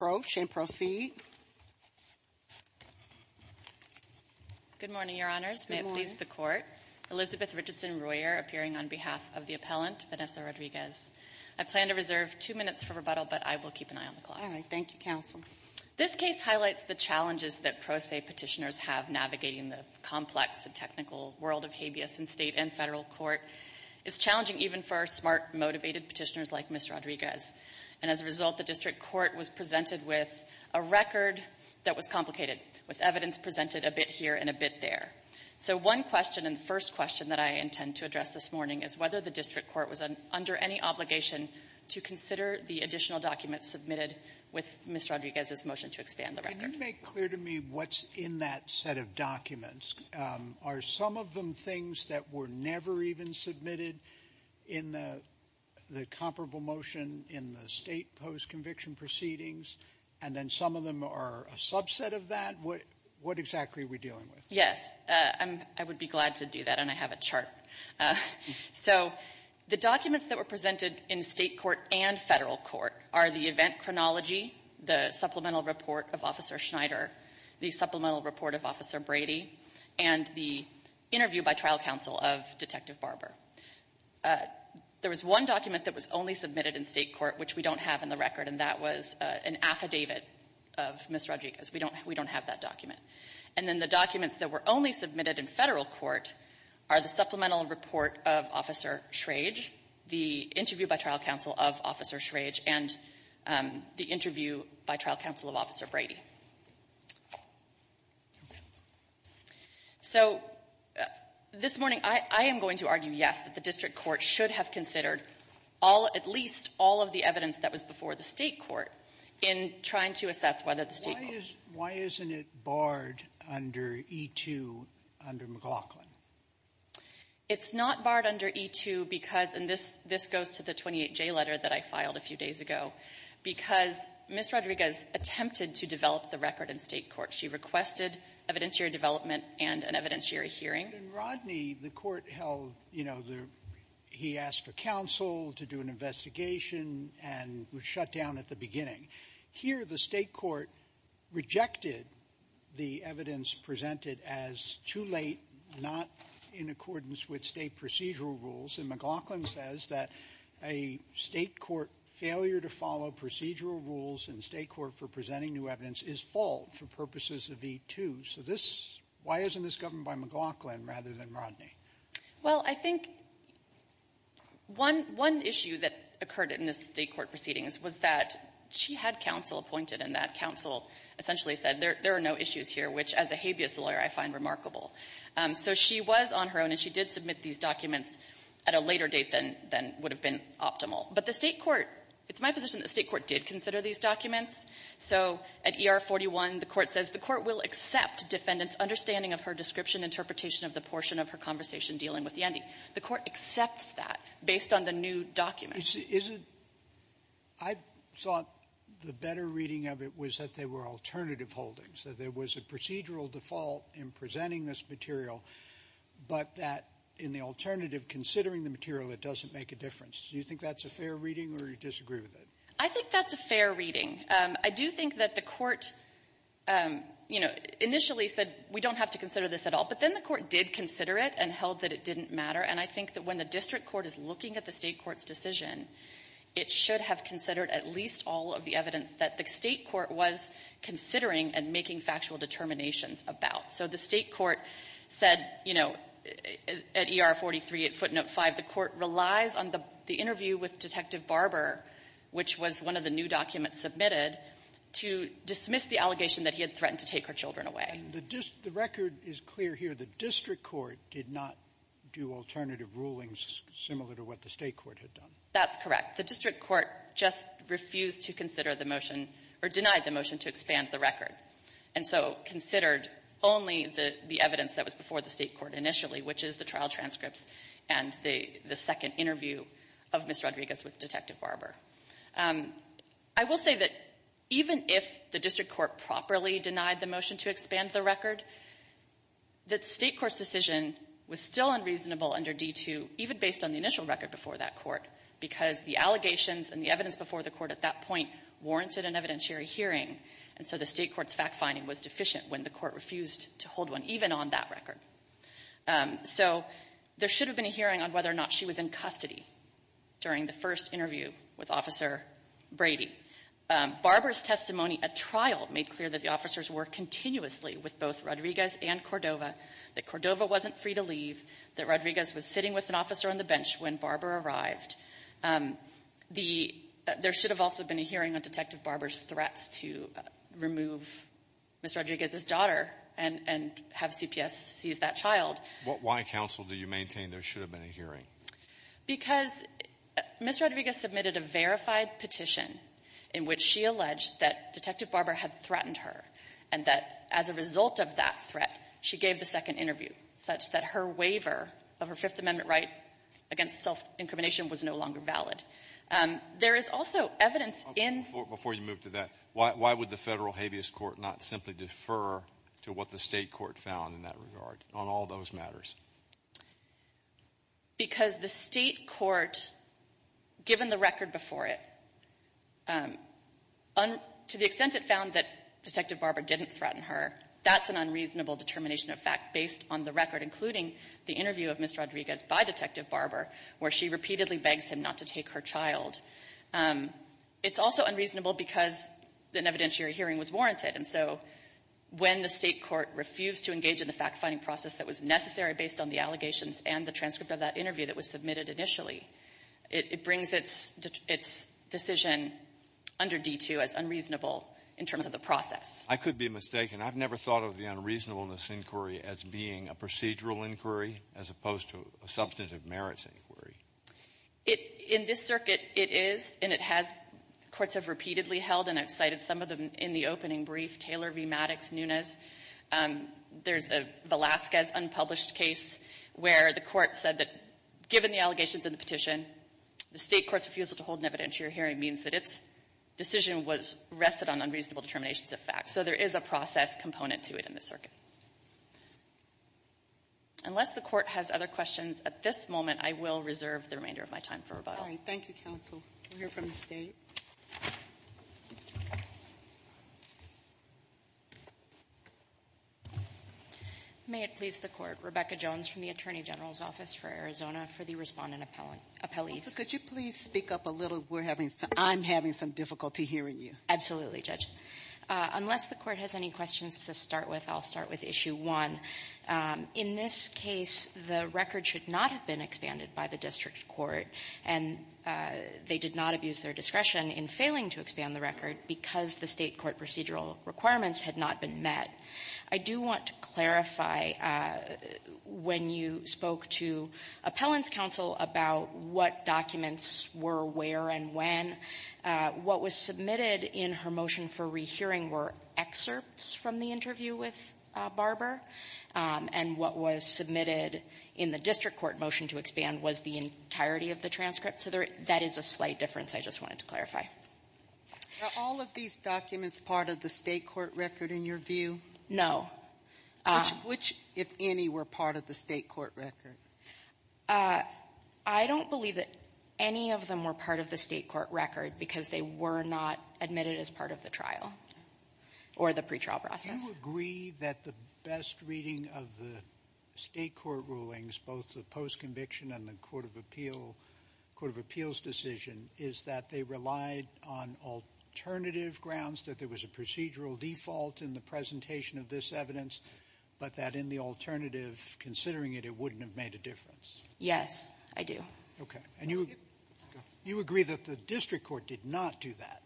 Good morning, Your Honors. May it please the Court. Elizabeth Richardson-Royer, appearing on behalf of the appellant, Vanessa Rodriguez. I plan to reserve two minutes for rebuttal, but I will keep an eye on the clock. All right. Thank you, Counsel. This case highlights the challenges that pro se petitioners have navigating the complex and technical world of habeas in state and federal court. It's challenging even for smart, motivated petitioners like Ms. Rodriguez. And as a result, the district court was presented with a record that was complicated, with evidence presented a bit here and a bit there. So one question, and the first question that I intend to address this morning, is whether the district court was under any obligation to consider the additional documents submitted with Ms. Rodriguez's motion to expand the record. Can you make clear to me what's in that set of documents? Are some of them things that were never even submitted in the comparable motion in the state post-conviction proceedings, and then some of them are a subset of that? What exactly are we dealing with? Yes. I would be glad to do that, and I have a chart. So the documents that were presented in state court and federal court are the event chronology, the supplemental report of Officer Detective Barber. There was one document that was only submitted in state court, which we don't have in the record, and that was an affidavit of Ms. Rodriguez. We don't have that document. And then the documents that were only submitted in federal court are the supplemental report of Officer Schrage, the interview by trial counsel of Officer Schrage, and the interview by trial counsel of Officer Brady. Okay. So this morning, I am going to argue, yes, that the district court should have considered all at least all of the evidence that was before the state court in trying to assess whether the state court Why isn't it barred under E-2 under McLaughlin? It's not barred under E-2 because, and this goes to the 28J letter that I filed a few years ago, the state court should have considered all of the evidence that was before the state court in trying to assess whether the state court Why isn't it barred under E-2 under McLaughlin? It's not barred under E-2 because, and this goes to the 28J letter that I filed a few years ago, the state court should have considered all of the evidence that was before the state court in trying to assess whether the state court Why isn't it barred under E-2 under McLaughlin? Well, I think one issue that occurred in the state court proceedings was that she had counsel appointed, and that counsel essentially said, there are no issues here, which, as a habeas lawyer, I find remarkable. So she was on her own, and she did submit these documents at a later date than would have been optimal. But the state court, at ER-41, the court says the court will accept defendants' understanding of her description, interpretation of the portion of her conversation dealing with Yandy. The court accepts that based on the new documents. I thought the better reading of it was that they were alternative holdings, that there was a procedural default in presenting this material, but that in the alternative, considering the material, it doesn't make a difference. Do you think that's a fair reading, or do you disagree with it? I think that's a fair reading. I do think that the court, you know, initially said, we don't have to consider this at all, but then the court did consider it and held that it didn't matter. And I think that when the district court is looking at the state court's decision, it should have considered at least all of the evidence that the state court was considering and making factual determinations about. So the state court said, you know, at ER-43, at footnote 5, the court relies on the was one of the new documents submitted to dismiss the allegation that he had threatened to take her children away. And the record is clear here. The district court did not do alternative rulings similar to what the state court had done. That's correct. The district court just refused to consider the motion, or denied the motion, to expand the record, and so considered only the evidence that was before the state court initially, which is the trial transcripts and the second interview of Ms. Rodriguez with Detective Barber. I will say that even if the district court properly denied the motion to expand the record, the state court's decision was still unreasonable under D-2, even based on the initial record before that court, because the allegations and the evidence before the court at that point warranted an evidentiary hearing. And so the state court's fact-finding was deficient when the court refused to hold one, even on that record. So there should have been a hearing on whether or not she was in custody during the first interview with Officer Brady. Barber's testimony at trial made clear that the officers were continuously with both Rodriguez and Cordova, that Cordova wasn't free to leave, that Rodriguez was sitting with an officer on the bench when Barber arrived. The — there should have also been a hearing on Detective Barber's threats to remove Ms. Rodriguez's daughter and have CPS seize that child. Why, counsel, do you maintain there should have been a hearing? Because Ms. Rodriguez submitted a verified petition in which she alleged that Detective Barber had threatened her, and that as a result of that threat, she gave the second interview, such that her waiver of her Fifth Amendment right against self-incrimination was no longer valid. There is also evidence in — Before you move to that, why would the federal habeas court not simply defer to what the state court found in that regard, on all those matters? Because the state court, given the record before it, to the extent it found that Detective Barber didn't threaten her, that's an unreasonable determination of fact based on the record, including the interview of Ms. Rodriguez by Detective Barber, where she repeatedly begs him not to take her child. It's also unreasonable because an evidentiary hearing was warranted. And so when the state court refused to engage in the fact-finding process that was necessary based on the allegations and the transcript of that interview that was submitted initially, it brings its decision under D-2 as unreasonable in terms of the process. I could be mistaken. I've never thought of the unreasonableness inquiry as being a procedural inquiry as opposed to a substantive merits inquiry. In this circuit, it is, and it has — courts have repeatedly held, and I've cited some of them in the opening brief. Taylor v. Maddox, Nunes, there's a Velazquez unpublished case where the court said that given the allegations in the petition, the state court's refusal to hold an evidentiary hearing means that its decision was rested on unreasonable determinations of fact. So there is a process component to it in this circuit. Unless the court has other questions at this moment, I will reserve the remainder of my time for rebuttal. Thank you, counsel. We'll hear from the State. May it please the Court. Rebecca Jones from the Attorney General's Office for Arizona for the Respondent Appellees. Counsel, could you please speak up a little? We're having — I'm having some difficulty hearing you. Absolutely, Judge. Unless the court has any questions to start with, I'll start with Issue 1. In this case, the record should not have been expanded by the district court, and they did not abuse their discretion in failing to expand the record because the state court procedural requirements had not been met. I do want to clarify, when you spoke to Appellant's counsel about what documents were where and when, what was submitted in her motion for rehearing were excerpts from the interview with Barber, and what was submitted in the district court motion to expand was the entirety of the transcript. So there — that is a slight difference I just wanted to clarify. Are all of these documents part of the state court record in your view? No. Which, if any, were part of the state court record? I don't believe that any of them were part of the state court record because they were not admitted as part of the trial or the pretrial process. Do you agree that the best reading of the state court rulings, both the post-conviction and the court of appeals decision, is that they relied on alternative grounds, that there was a procedural default in the presentation of this evidence, but that in the alternative, considering it, it wouldn't have made a difference? Yes, I do. Okay. And you agree that the district court did not do that?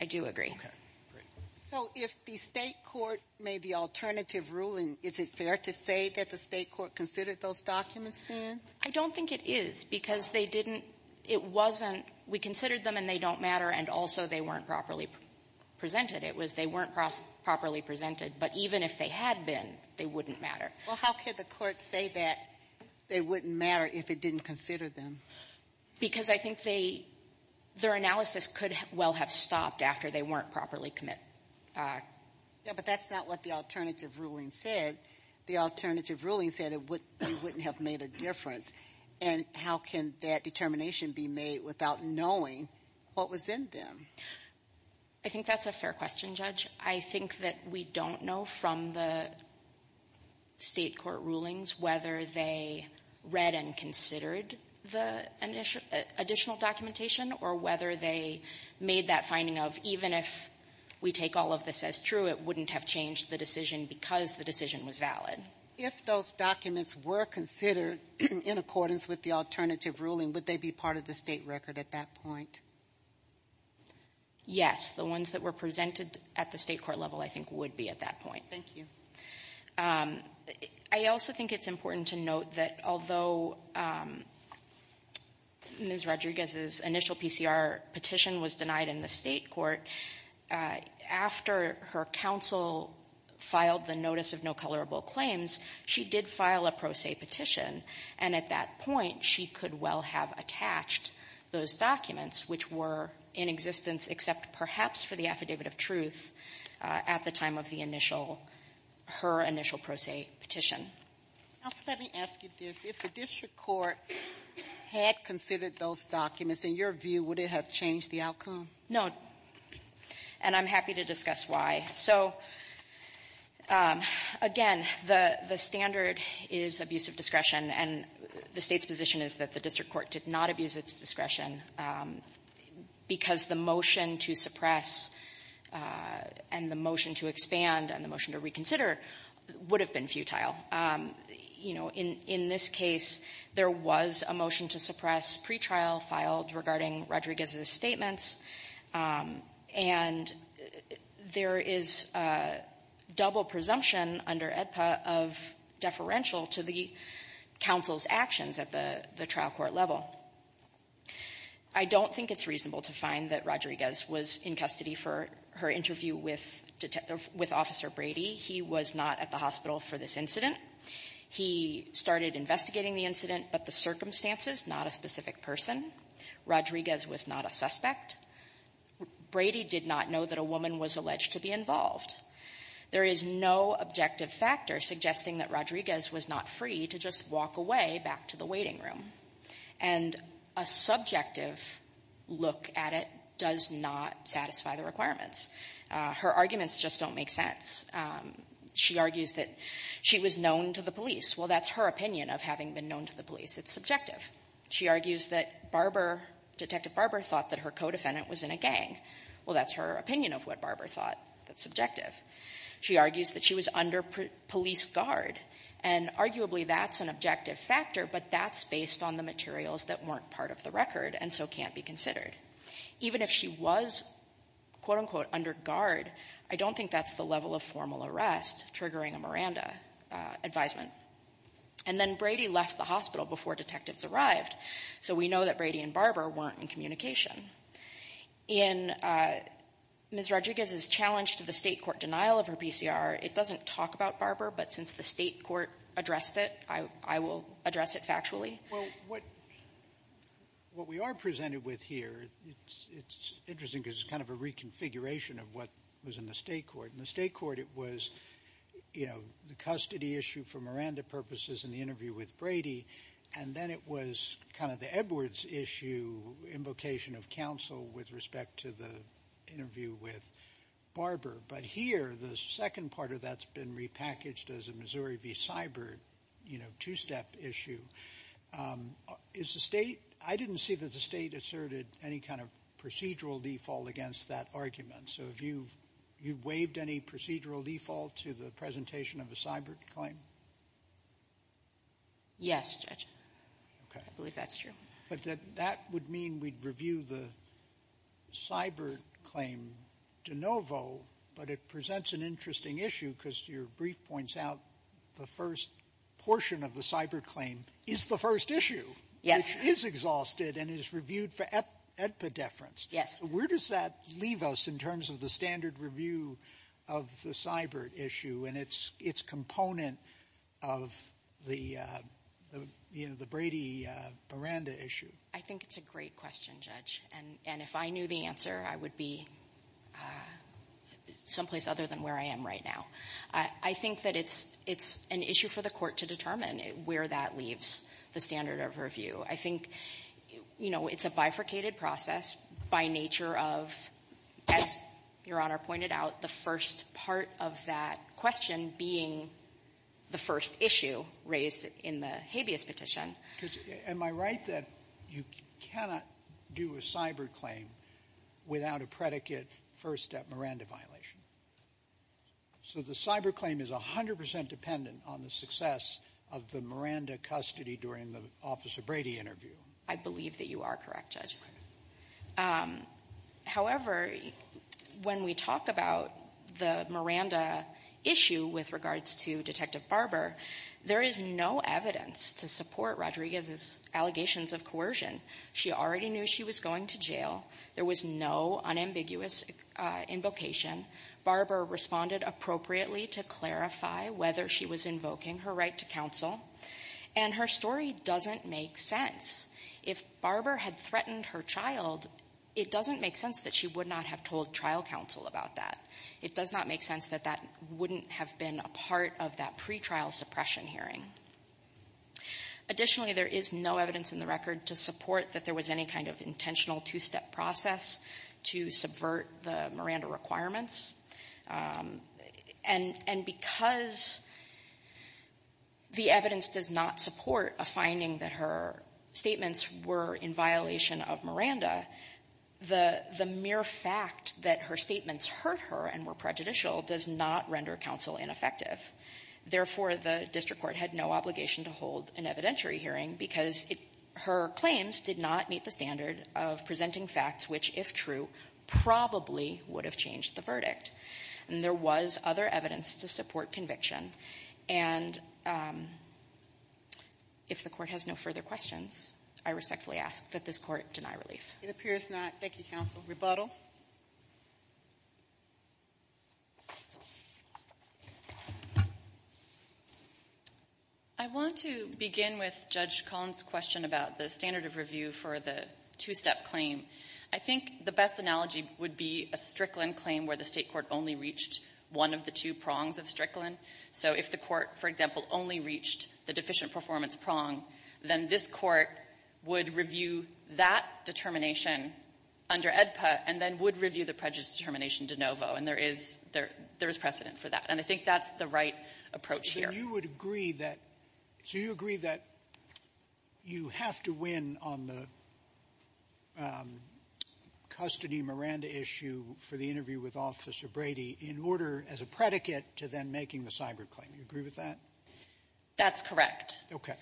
I do agree. Okay. Great. So if the state court made the alternative ruling, is it fair to say that the state court considered those documents then? I don't think it is because they didn't — it wasn't we considered them and they don't matter, and also they weren't properly presented. It was they weren't properly presented. But even if they had been, they wouldn't matter. Well, how could the court say that they wouldn't matter if it didn't consider them? Because I think they — their analysis could well have stopped after they weren't properly committed. Yeah, but that's not what the alternative ruling said. The alternative ruling said it wouldn't have made a difference. And how can that determination be made without knowing what was in them? I think that's a fair question, Judge. I think that we don't know from the state court rulings whether they read and considered the additional documentation or whether they made that finding of, even if we take all of this as true, it wouldn't have changed the decision because the decision was valid. If those documents were considered in accordance with the alternative ruling, would they be part of the state record at that point? Yes. The ones that were presented at the state court level, I think, would be at that point. Thank you. I also think it's important to note that although Ms. Rodriguez's initial PCR petition was denied in the state court, after her counsel filed the notice of no colorable claims, she did file a pro se petition. And at that point, she could well have attached those documents, which were in existence except perhaps for the affidavit of truth, at the time of the initial her initial pro se petition. Let me ask you this. If the district court had considered those documents, in your view, would it have changed the outcome? No. And I'm happy to discuss why. So, again, the standard is abuse of discretion. And the State's position is that the district court did not abuse its discretion because the motion to suppress and the motion to expand and the motion to reconsider would have been futile. You know, in this case, there was a motion to suppress pretrial filed regarding Rodriguez's statements. And there is double presumption under AEDPA of deferential to the counsel's actions at the trial court level. I don't think it's reasonable to find that Rodriguez was in custody for her interview with Detective — with Officer Brady. He was not at the hospital for this incident. He started investigating the incident, but the circumstances, not a specific person. Rodriguez was not a suspect. Brady did not know that a woman was alleged to be involved. There is no objective factor suggesting that Rodriguez was not free to just walk away back to the waiting room. And a subjective look at it does not satisfy the requirements. Her arguments just don't make sense. She argues that she was known to the police. Well, that's her opinion of having been known to the police. It's subjective. She argues that Barber — Detective Barber thought that her co-defendant was in a gang. Well, that's her opinion of what Barber thought. That's subjective. She argues that she was under police guard. And arguably, that's an objective factor, but that's based on the materials that weren't part of the record and so can't be considered. Even if she was, quote-unquote, under guard, I don't think that's the level of formal arrest triggering a Miranda advisement. And then Brady left the hospital before detectives arrived. So we know that Brady and Barber weren't in communication. In Ms. Rodriguez's challenge to the state court denial of her PCR, it doesn't talk about Barber, but since the state court addressed it, I will address it factually. Well, what we are presented with here, it's interesting because it's kind of a reconfiguration of what was in the state court. In the state court, it was, you know, the custody issue for Miranda purposes in the interview with Brady, and then it was kind of the Edwards issue, invocation of counsel with respect to the interview with Barber. But here, the second part of that's been repackaged as a Missouri v. Cyber, you know, two-step issue. Is the state — I didn't see that the state asserted any kind of procedural default against that argument. So have you waived any procedural default to the presentation of a cyber claim? Yes, Judge. Okay. I believe that's true. But that would mean we'd review the cyber claim de novo, but it presents an interesting issue because your brief points out the first portion of the cyber claim is the first issue. Yes. Which is exhausted and is reviewed for epideference. Yes. Where does that leave us in terms of the standard review of the cyber issue and its component of the, you know, the Brady-Miranda issue? I think it's a great question, Judge. And if I knew the answer, I would be someplace other than where I am right now. I think that it's an issue for the court to determine where that leaves the standard of review. I think, you know, it's a bifurcated process by nature of, as Your Honor pointed out, the first part of that question being the first issue raised in the habeas petition. Am I right that you cannot do a cyber claim without a predicate first-step Miranda violation? So the cyber claim is 100 percent dependent on the success of the Miranda in the custody during the Officer Brady interview. I believe that you are correct, Judge. However, when we talk about the Miranda issue with regards to Detective Barber, there is no evidence to support Rodriguez's allegations of coercion. She already knew she was going to jail. There was no unambiguous invocation. Barber responded appropriately to clarify whether she was invoking her right to counsel. And her story doesn't make sense. If Barber had threatened her child, it doesn't make sense that she would not have told trial counsel about that. It does not make sense that that wouldn't have been a part of that pretrial suppression hearing. Additionally, there is no evidence in the record to support that there was any kind of intentional two-step process to subvert the Miranda requirements. And because the evidence does not support a finding that her statements were in violation of Miranda, the mere fact that her statements hurt her and were prejudicial does not render counsel ineffective. Therefore, the district court had no obligation to hold an evidentiary hearing because her claims did not meet the standard of presenting facts which, if true, probably would have changed the verdict. And there was other evidence to support conviction. And if the court has no further questions, I respectfully ask that this court deny relief. It appears not. Thank you, counsel. Rebuttal? I want to begin with Judge Collins' question about the standard of review for the two-step claim. I think the best analogy would be a Strickland claim where the State court only reached one of the two prongs of Strickland. So if the court, for example, only reached the deficient performance prong, then this court would review that determination under AEDPA and then would review the prejudice determination de novo. And there is precedent for that. And I think that's the right approach here. So you would agree that you have to win on the custody Miranda issue for the interview with Officer Brady in order, as a predicate, to then making the Seibert claim. Do you agree with that? That's correct. Okay.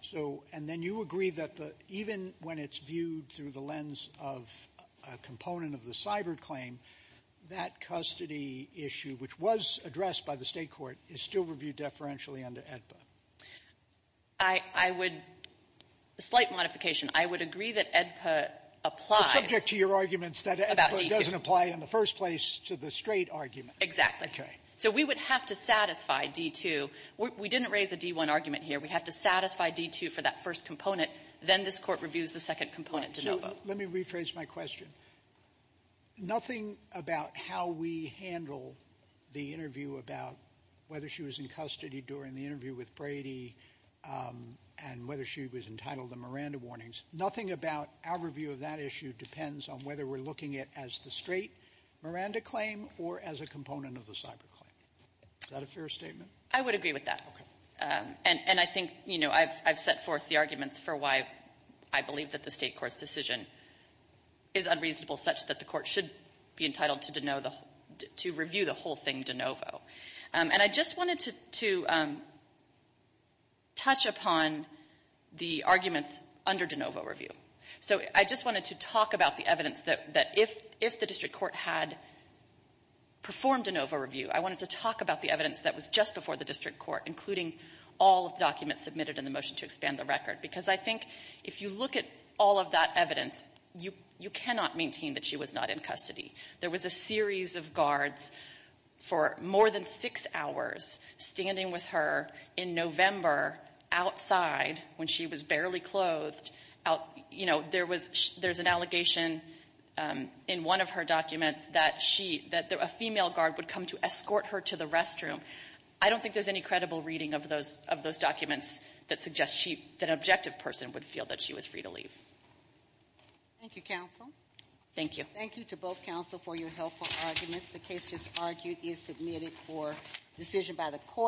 So and then you agree that even when it's viewed through the lens of a component of the Seibert claim, that custody issue, which was addressed by the State court, is still reviewed deferentially under AEDPA? I would — a slight modification. I would agree that AEDPA applies about D2. But subject to your arguments that AEDPA doesn't apply in the first place to the straight argument. Exactly. Okay. So we would have to satisfy D2. We didn't raise a D1 argument here. We have to satisfy D2 for that first component. Then this Court reviews the second component de novo. Let me rephrase my question. Nothing about how we handle the interview about whether she was in custody during the interview with Brady and whether she was entitled to Miranda warnings. Nothing about our review of that issue depends on whether we're looking at it as the straight Miranda claim or as a component of the Seibert claim. Is that a fair statement? I would agree with that. Okay. And I think, you know, I've set forth the arguments for why I believe that the State Court should be entitled to review the whole thing de novo. And I just wanted to touch upon the arguments under de novo review. So I just wanted to talk about the evidence that if the district court had performed a de novo review, I wanted to talk about the evidence that was just before the district court, including all of the documents submitted in the motion to expand the record. Because I think if you look at all of that evidence, you cannot maintain that she was not in custody. There was a series of guards for more than six hours standing with her in November outside when she was barely clothed out, you know, there's an allegation in one of her documents that she, that a female guard would come to escort her to the restroom. I don't think there's any credible reading of those documents that suggests she, that an objective person would feel that she was free to leave. Thank you, counsel. Thank you. Thank you to both counsel for your helpful arguments. The case just argued is submitted for decision by the court.